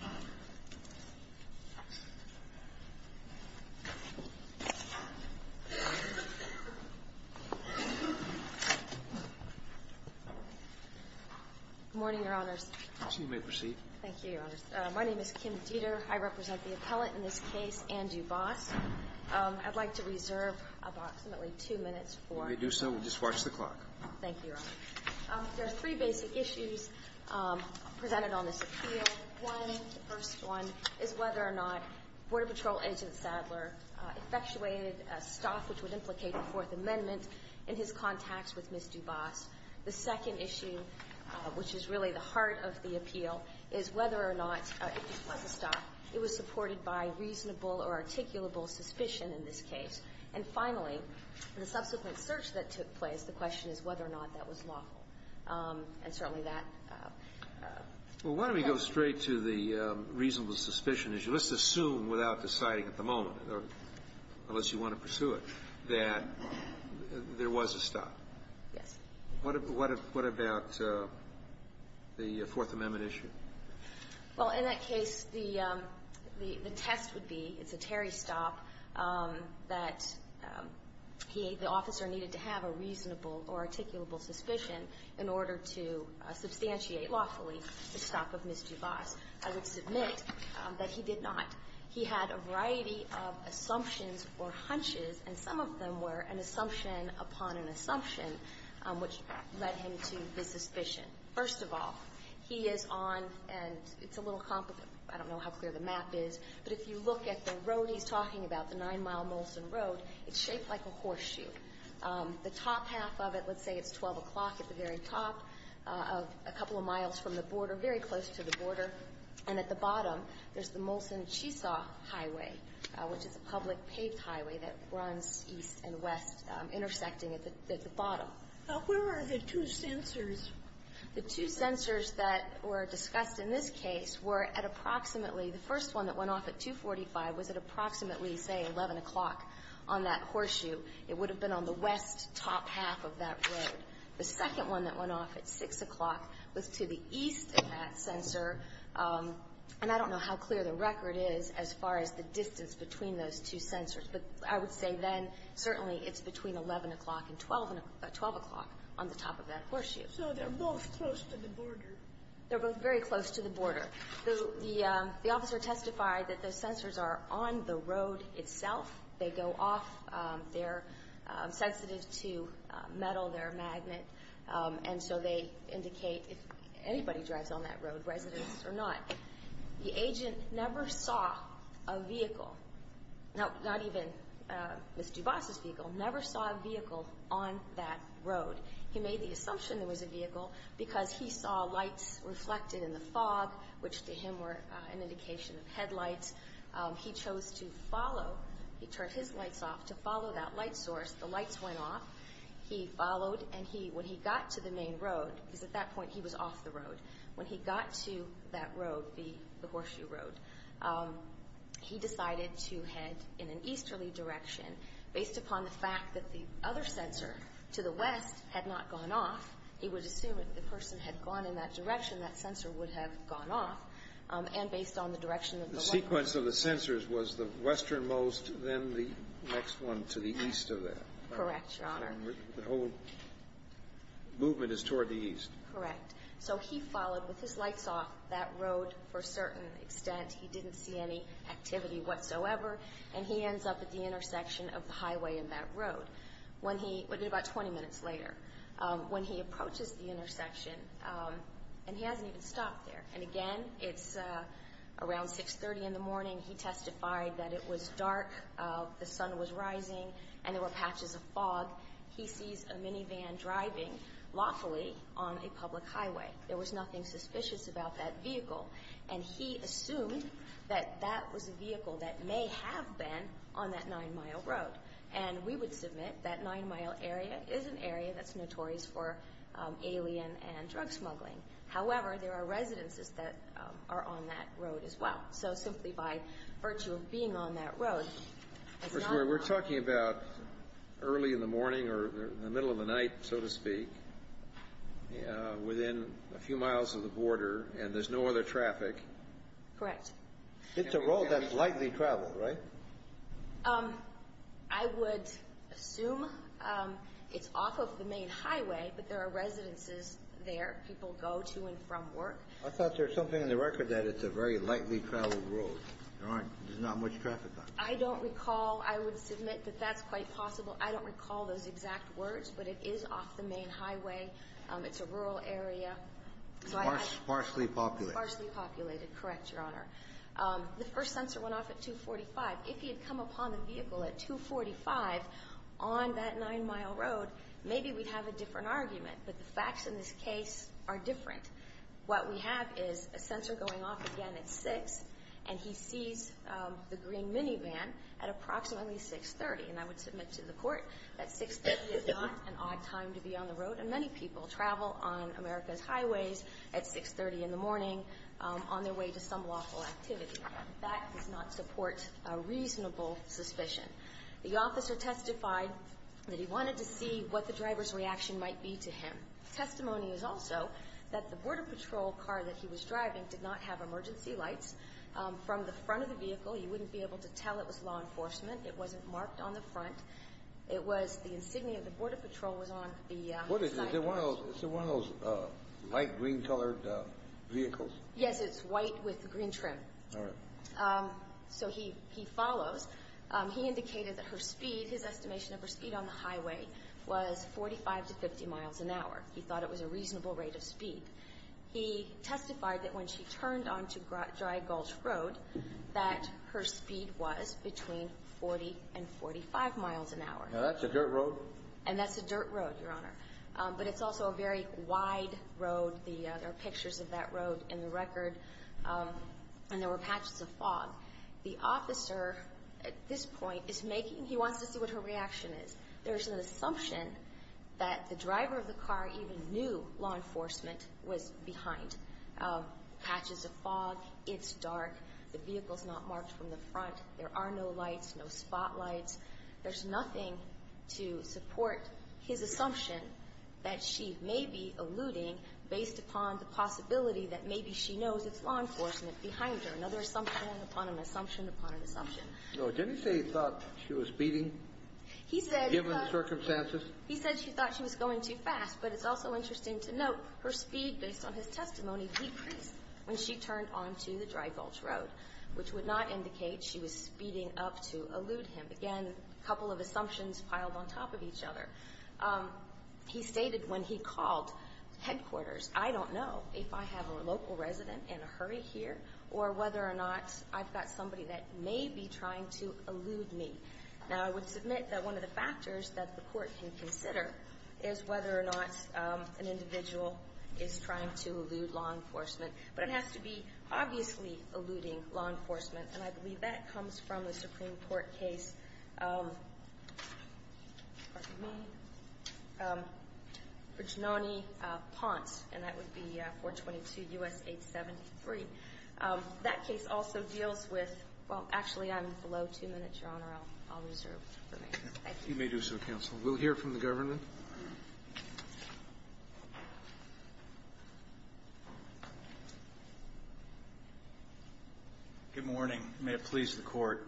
Good morning, Your Honors. You may proceed. Thank you, Your Honors. My name is Kim Dieter. I represent the appellant in this case, Andrew Bus. I'd like to reserve approximately two minutes for While you do so, we'll just watch the clock. Thank you, Your Honors. There are three basic issues presented on this appeal. One, the first one, is whether or not Border Patrol Agent Sadler effectuated a staff which would implicate the Fourth Amendment in his contacts with Ms. Dubas. The second issue, which is really the heart of the appeal, is whether or not it was a staff. It was supported by reasonable or articulable suspicion in this case. And finally, the subsequent search that took place, the question is whether or not that was lawful. And certainly that Well, why don't we go straight to the reasonable suspicion issue. Let's assume, without deciding at the moment, unless you want to pursue it, that there was a staff. Yes. What about the Fourth Amendment issue? Well, in that case, the test would be, it's a Terry staff, that the officer needed to have a reasonable or articulable suspicion in order to substantiate lawfully the staff of Ms. Dubas. I would submit that he did not. He had a variety of assumptions or hunches, and some of them were an assumption upon an assumption, which led him to his suspicion. First of all, he is on, and it's a little complicated. I don't know how clear the map is, but if you look at the road he's talking about, the 9 Mile Molson Road, it's shaped like a horseshoe. The top half of it, let's say it's 12 o'clock at the very top, a couple of miles from the border, very close to the border. And at the bottom, there's the Molson-Cheesaw Highway, which is a public paved highway that runs east and west, intersecting at the bottom. Now, where are the two sensors? The two sensors that were discussed in this case were at approximately the first one that went off at 245 was at approximately, say, 11 o'clock on that horseshoe. It would have been on the west top half of that road. The second one that went off at 6 o'clock was to the east of that sensor, and I don't know how clear the record is as far as the distance between those two sensors. But I would say then certainly it's between 11 o'clock and 12 o'clock on the top of that horseshoe. So they're both close to the border. They're both very close to the border. The officer testified that the sensors are on the road itself. They go off. They're sensitive to metal, their magnet, and so they indicate if anybody drives on that road, residents or not. The agent never saw a vehicle, not even Ms. DuBasse's vehicle, never saw a vehicle on that road. He made the assumption there was a vehicle because he saw lights reflected in the fog, which to him were an indication of headlights. He chose to follow. He turned his lights off to follow that light source. The lights went off. He followed, and when he got to the main road, because at that point he was off the road, when he got to that road, the horseshoe road, he decided to head in an easterly direction. Based upon the fact that the other sensor to the west had not gone off, he would assume if the person had gone in that direction, that sensor would have gone off. And based on the direction of the light source. The sequence of the sensors was the westernmost, then the next one to the east of that. Correct, Your Honor. So the whole movement is toward the east. Correct. So he followed with his lights off that road for a certain extent. He didn't see any activity whatsoever, and he ends up at the intersection of the highway and that road. When he, about 20 minutes later, when he approaches the intersection, and he hasn't even stopped there. And again, it's around 6.30 in the morning. He testified that it was dark, the sun was rising, and there were patches of fog. He sees a minivan driving lawfully on a public highway. There was nothing suspicious about that vehicle. And he assumed that that was a vehicle that may have been on that nine-mile road. And we would submit that nine-mile area is an area that's notorious for alien and drug smuggling. However, there are residences that are on that road as well. So simply by virtue of being on that road. First of all, we're talking about early in the morning or the middle of the night, so to speak, within a few miles of the border. And there's no other traffic. Correct. It's a road that's likely traveled, right? I would assume it's off of the main highway, but there are residences there. People go to and from work. I thought there was something in the record that it's a very lightly traveled road. There's not much traffic on it. I don't recall. I would submit that that's quite possible. I don't recall those exact words, but it is off the main highway. It's a rural area. Sparsely populated. Sparsely populated, correct, Your Honor. The first sensor went off at 2.45. If he had come upon the vehicle at 2.45 on that nine-mile road, maybe we'd have a different argument. But the facts in this case are different. What we have is a sensor going off again at 6, and he sees the green minivan at approximately 6.30. And I would submit to the Court that 6.30 is not an odd time to be on the road. And many people travel on America's highways at 6.30 in the morning on their way to some lawful activity. That does not support a reasonable suspicion. The officer testified that he wanted to see what the driver's reaction might be to him. Testimony is also that the Border Patrol car that he was driving did not have emergency lights from the front of the vehicle. He wouldn't be able to tell it was law enforcement. It wasn't marked on the front. It was the insignia of the Border Patrol was on the side. Is it one of those light green-colored vehicles? Yes, it's white with green trim. All right. So he follows. He indicated that her speed, his estimation of her speed on the highway, was 45 to 50 miles an hour. He thought it was a reasonable rate of speed. He testified that when she turned onto Dry Gulch Road that her speed was between 40 and 45 miles an hour. Now, that's a dirt road. And that's a dirt road, Your Honor. But it's also a very wide road. There are pictures of that road in the record, and there were patches of fog. The officer, at this point, is making he wants to see what her reaction is. There's an assumption that the driver of the car even knew law enforcement was behind. Patches of fog. It's dark. The vehicle's not marked from the front. There are no lights, no spotlights. There's nothing to support his assumption that she may be alluding based upon the possibility that maybe she knows it's law enforcement behind her. Another assumption upon an assumption upon an assumption. No. Didn't he say he thought she was speeding, given the circumstances? He said he thought she was going too fast. But it's also interesting to note her speed, based on his testimony, decreased when she turned onto the Dry Gulch Road, which would not indicate she was speeding up to allude him. Again, a couple of assumptions piled on top of each other. He stated when he called headquarters, I don't know if I have a local resident in a hurry here or whether or not I've got somebody that may be trying to allude me. Now, I would submit that one of the factors that the court can consider is whether or not an individual is trying to allude law enforcement. But it has to be obviously alluding law enforcement. And I believe that comes from the Supreme Court case of, pardon me, Virginoni-Ponce, and that would be 422 U.S. 873. That case also deals with – well, actually, I'm below two minutes, Your Honor. I'll reserve for later. Thank you. You may do so, counsel. We'll hear from the government. Thank you. Good morning. May it please the Court.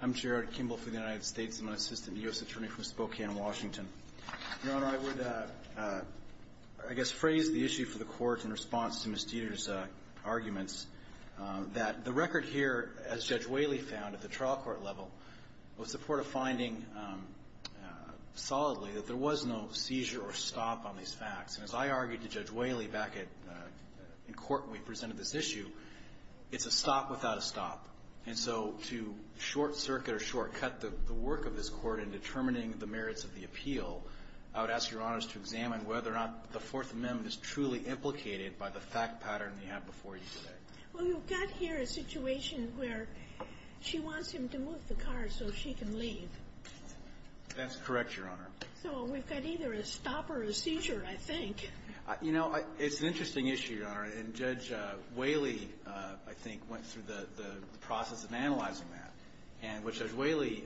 I'm Jared Kimball for the United States. I'm an assistant U.S. attorney from Spokane, Washington. Your Honor, I would, I guess, phrase the issue for the Court in response to Ms. Dieter's arguments, that the record here, as Judge Whaley found at the trial court level, was the court of finding solidly that there was no seizure or stop on these facts. And as I argued to Judge Whaley back in court when we presented this issue, it's a stop without a stop. And so to short circuit or shortcut the work of this Court in determining the merits of the appeal, I would ask Your Honors to examine whether or not the Fourth Amendment is truly implicated by the fact pattern we have before you today. Well, you've got here a situation where she wants him to move the car so she can leave. That's correct, Your Honor. So we've got either a stop or a seizure, I think. You know, it's an interesting issue, Your Honor. And Judge Whaley, I think, went through the process of analyzing that. And what Judge Whaley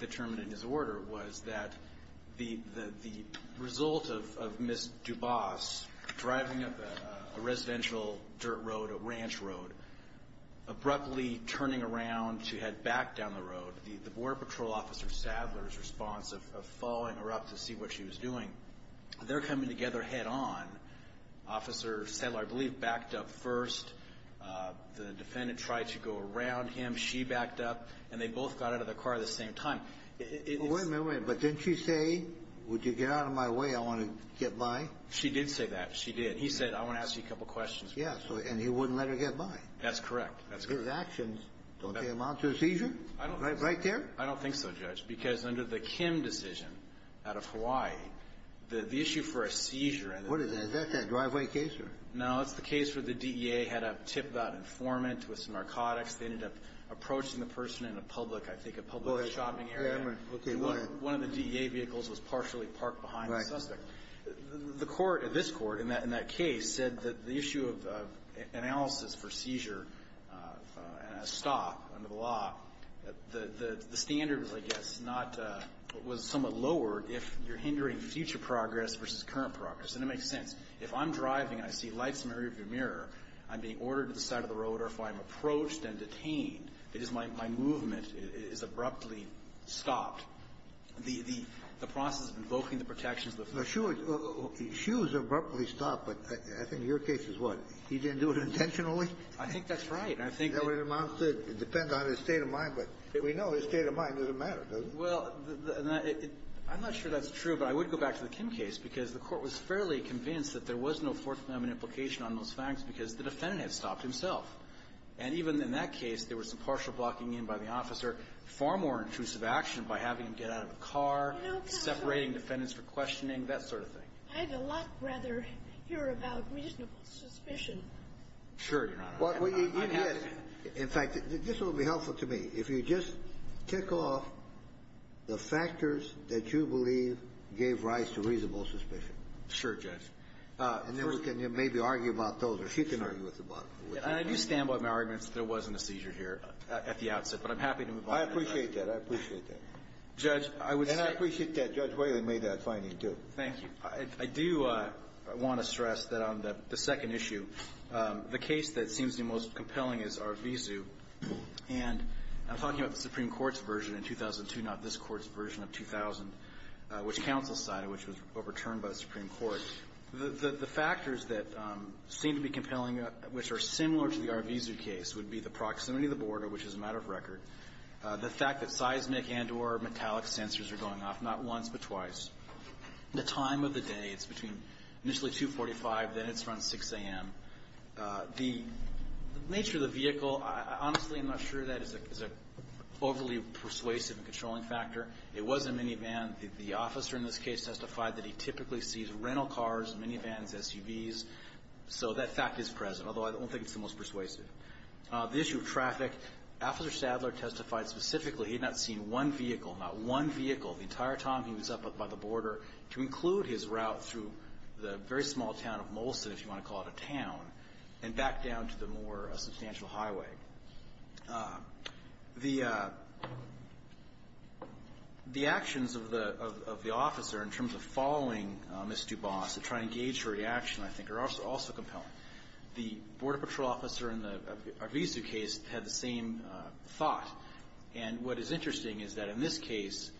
determined in his order was that the result of Ms. Dubas driving up a residential dirt road, a ranch road, abruptly turning around to head back down the road, the Border Patrol Officer Sadler's response of following her up to see what she was doing, they're coming together head on. Officer Sadler, I believe, backed up first. The defendant tried to go around him. She backed up. And they both got out of the car at the same time. Wait a minute. Wait a minute. But didn't she say, would you get out of my way? I want to get by? She did say that. She did. He said, I want to ask you a couple questions. Yes. And he wouldn't let her get by. That's correct. Those actions don't amount to a seizure? Right there? I don't think so, Judge. Because under the Kim decision out of Hawaii, the issue for a seizure and a seizure What is that? Is that that driveway case? No. It's the case where the DEA had a tip about informant with some narcotics. They ended up approaching the person in a public, I think, a public shopping area. Wait a minute. Okay. One of the DEA vehicles was partially parked behind the suspect. Right. The court, this court, in that case, said that the issue of analysis for seizure and a stop under the law, the standard was, I guess, somewhat lowered if you're hindering future progress versus current progress. And it makes sense. If I'm driving and I see lights in the rear of your mirror, I'm being ordered to the side of the road, or if I'm approached and detained, it is my movement is abruptly stopped. The process of invoking the protections of the defendants. Now, Hsu, Hsu's abruptly stopped, but I think your case is what? He didn't do it intentionally? I think that's right. I think that's what it amounts to. It depends on his state of mind. But we know his state of mind doesn't matter, does it? Well, I'm not sure that's true, but I would go back to the Kim case because the Court was fairly convinced that there was no Fourth Amendment implication on those facts because the defendant had stopped himself. And even in that case, there was some partial blocking in by the officer, far more intrusive action by having him get out of the car, separating defendants for questioning, that sort of thing. I'd a lot rather hear about reasonable suspicion. Sure, Your Honor. In fact, this will be helpful to me. If you just tick off the factors that you believe gave rise to reasonable suspicion. Sure, Judge. And then we can maybe argue about those, or she can argue with the bottom. I do stand by my arguments that there wasn't a seizure here at the outset, but I'm happy to move on. I appreciate that. I appreciate that. Judge, I would say that. And I appreciate that Judge Whalen made that finding, too. Thank you. I do want to stress that on the second issue, the case that seems to be most compelling is Arvizu. And I'm talking about the Supreme Court's version in 2002, not this Court's version of 2000, which counsel cited, which was overturned by the Supreme Court. The factors that seem to be compelling, which are similar to the Arvizu case, would be the proximity of the border, which is a matter of record, the fact that seismic and or metallic sensors are going off, not once but twice, the time of the day. It's between initially 2.45, then it's around 6 a.m. The nature of the vehicle, honestly, I'm not sure that is an overly persuasive and controlling factor. It was a minivan. The officer in this case testified that he typically sees rental cars, minivans, SUVs. So that fact is present, although I don't think it's the most persuasive. The issue of traffic, Officer Sadler testified specifically he had not seen one vehicle, not one vehicle the entire time he was up by the border, to include his route through the very small town of Molson, if you want to call it a town, and back down to the more substantial highway. The actions of the officer in terms of following Ms. Duboss to try to engage her reaction, I think, are also compelling. The Border Patrol officer in the Arvizu case had the same thought. And what is interesting is that in this case,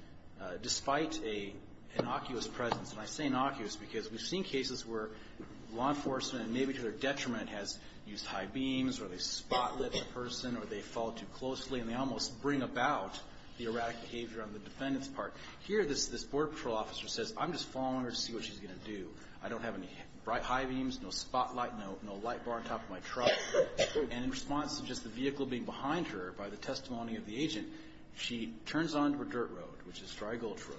despite an innocuous presence, and I say innocuous because we've seen cases where law enforcement, maybe to their detriment, has used high beams or they spotlight the person or they follow too closely and they almost bring about the erratic behavior on the defendant's part. Here this Border Patrol officer says, I'm just following her to see what she's going to do. I don't have any bright high beams, no spotlight, no light bar on top of my truck. And in response to just the vehicle being behind her by the testimony of the agent, she turns onto a dirt road, which is Dry Gulch Road,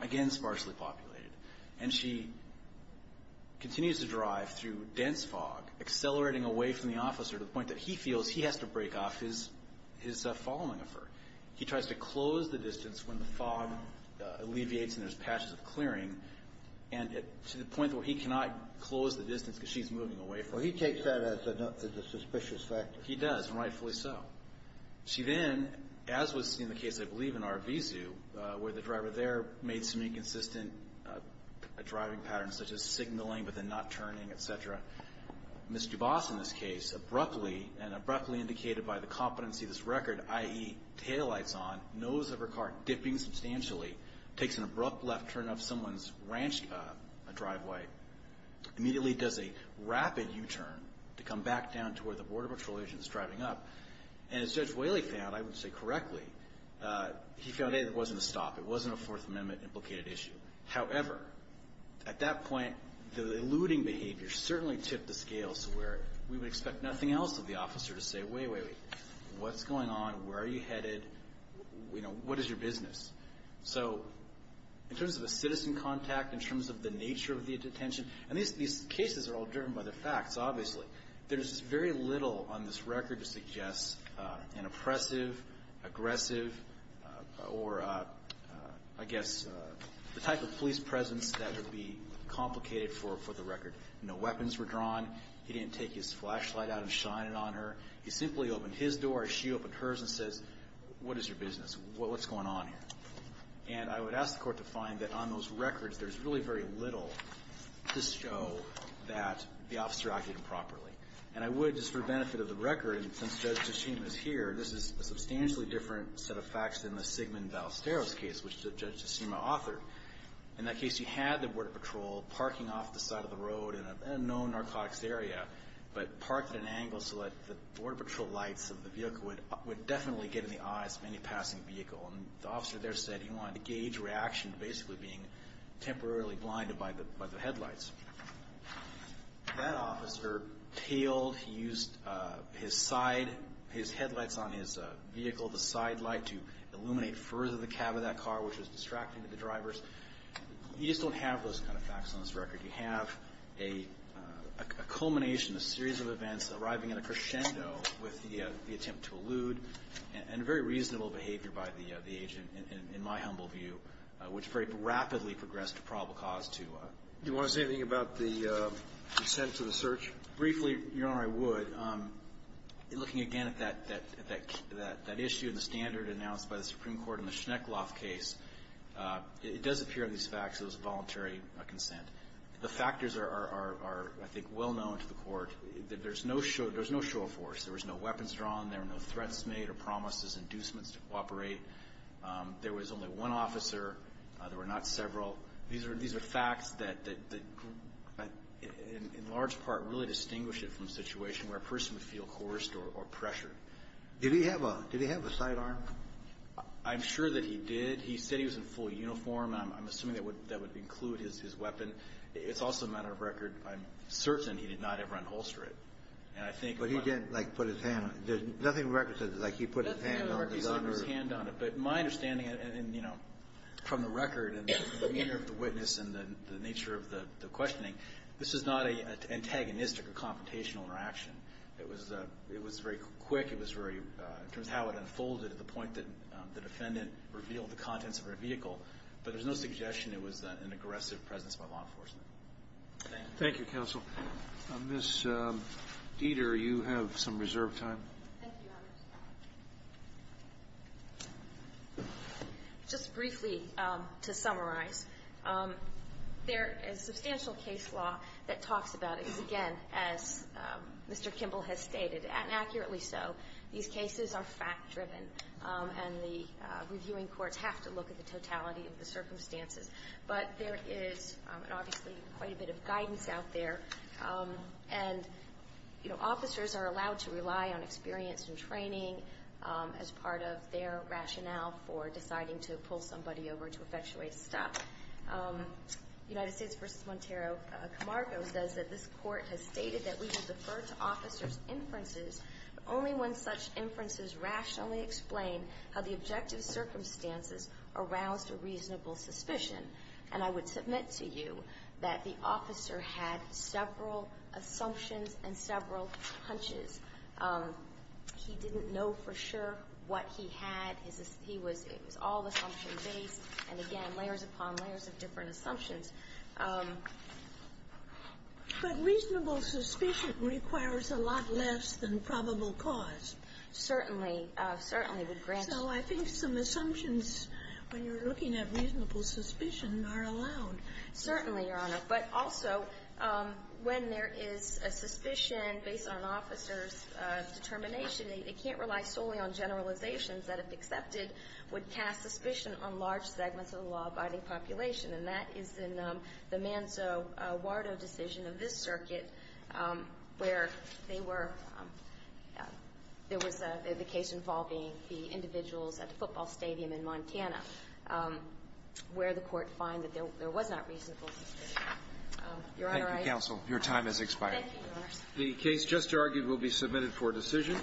again sparsely populated. And she continues to drive through dense fog, accelerating away from the officer to the point that he feels he has to break off his following of her. He tries to close the distance when the fog alleviates and there's patches of clearing to the point where he cannot close the distance because she's moving away from him. Well, he takes that as a suspicious factor. He does, and rightfully so. She then, as was seen in the case, I believe, in Arvizu, where the driver there made some inconsistent driving patterns, such as signaling but then not turning, et cetera. Ms. Dubas, in this case, abruptly, and abruptly indicated by the competency of this record, i.e., taillights on, nose of her car dipping substantially, takes an abrupt left turn of someone's ranch driveway, immediately does a rapid U-turn to come back down to where the Border Patrol agent is driving up. And as Judge Whaley found, I would say correctly, he found, A, that it wasn't a stop. It wasn't a Fourth Amendment-implicated issue. However, at that point, the eluding behavior certainly tipped the scale to where we would expect nothing else of the officer to say, wait, wait, wait, what's going on? Where are you headed? You know, what is your business? So in terms of a citizen contact, in terms of the nature of the detention, and these cases are all driven by the facts, obviously. There's very little on this record to suggest an oppressive, aggressive, or, I guess, the type of police presence that would be complicated for the record. No weapons were drawn. He didn't take his flashlight out and shine it on her. He simply opened his door as she opened hers and says, what is your business? What's going on here? And I would ask the Court to find that on those records, there's really very little to show that the officer acted improperly. And I would, just for the benefit of the record, and since Judge Tshishima is here, this is a substantially different set of facts than the Sigmund Ballesteros case, which Judge Tshishima authored. In that case, he had the Border Patrol parking off the side of the road in an unknown narcotics area, but parked at an angle so that the Border Patrol lights of the vehicle would definitely get in the eyes of any passing vehicle. And the officer there said he wanted to gauge reaction to basically being temporarily blinded by the headlights. That officer tailed. He used his side, his headlights on his vehicle, the side light, to illuminate further the cab of that car, which was distracting to the drivers. You just don't have those kind of facts on this record. You have a culmination, a series of events, arriving in a crescendo with the attempt to elude and very reasonable behavior by the agent, in my humble view, which very Do you want to say anything about the consent to the search? Briefly, Your Honor, I would. Looking again at that issue in the standard announced by the Supreme Court in the Schneckloff case, it does appear in these facts that it was a voluntary consent. The factors are, I think, well known to the Court. There's no show of force. There was no weapons drawn. There were no threats made or promises, inducements to cooperate. There was only one officer. There were not several. These are facts that, in large part, really distinguish it from a situation where a person would feel coerced or pressured. Did he have a sidearm? I'm sure that he did. He said he was in full uniform. I'm assuming that would include his weapon. It's also a matter of record. I'm certain he did not ever unholster it. But he didn't, like, put his hand on it. Nothing on the record says, like, he put his hand on it. Nothing on the record says he put his hand on it. But my understanding, and, you know, from the record and the demeanor of the witness and the nature of the questioning, this is not an antagonistic or confrontational interaction. It was very quick. It was very, in terms of how it unfolded at the point that the defendant revealed the contents of her vehicle. But there's no suggestion it was an aggressive presence by law enforcement. Thank you. Thank you, counsel. Ms. Dieter, you have some reserved time. Thank you, Your Honor. Just briefly, to summarize, there is substantial case law that talks about it, again, as Mr. Kimball has stated, and accurately so. These cases are fact-driven. And the reviewing courts have to look at the totality of the circumstances. But there is, obviously, quite a bit of guidance out there. And, you know, officers are allowed to rely on experience and training as part of their rationale for deciding to pull somebody over to effectuate a stop. United States v. Montero-Camargo says that this court has stated that we would defer to officers' inferences only when such inferences rationally explain how the objective circumstances aroused a reasonable suspicion. And I would submit to you that the officer had several assumptions and several hunches. He didn't know for sure what he had. It was all assumption-based. And, again, layers upon layers of different assumptions. But reasonable suspicion requires a lot less than probable cause. Certainly. Certainly would grant. So I think some assumptions, when you're looking at reasonable suspicion, are allowed. Certainly, Your Honor. But also, when there is a suspicion based on an officer's determination, it can't rely solely on generalizations that, if accepted, would cast suspicion on large segments of the law-abiding population. And that is in the Manzo-Wardo decision of this circuit, where they were – there was the case involving the individuals at the football stadium in Montana, where the court found that there was not reasonable suspicion. Your Honor, I think I'm done. Thank you, counsel. Your time has expired. Thank you, Your Honor. The case just argued will be submitted for decision.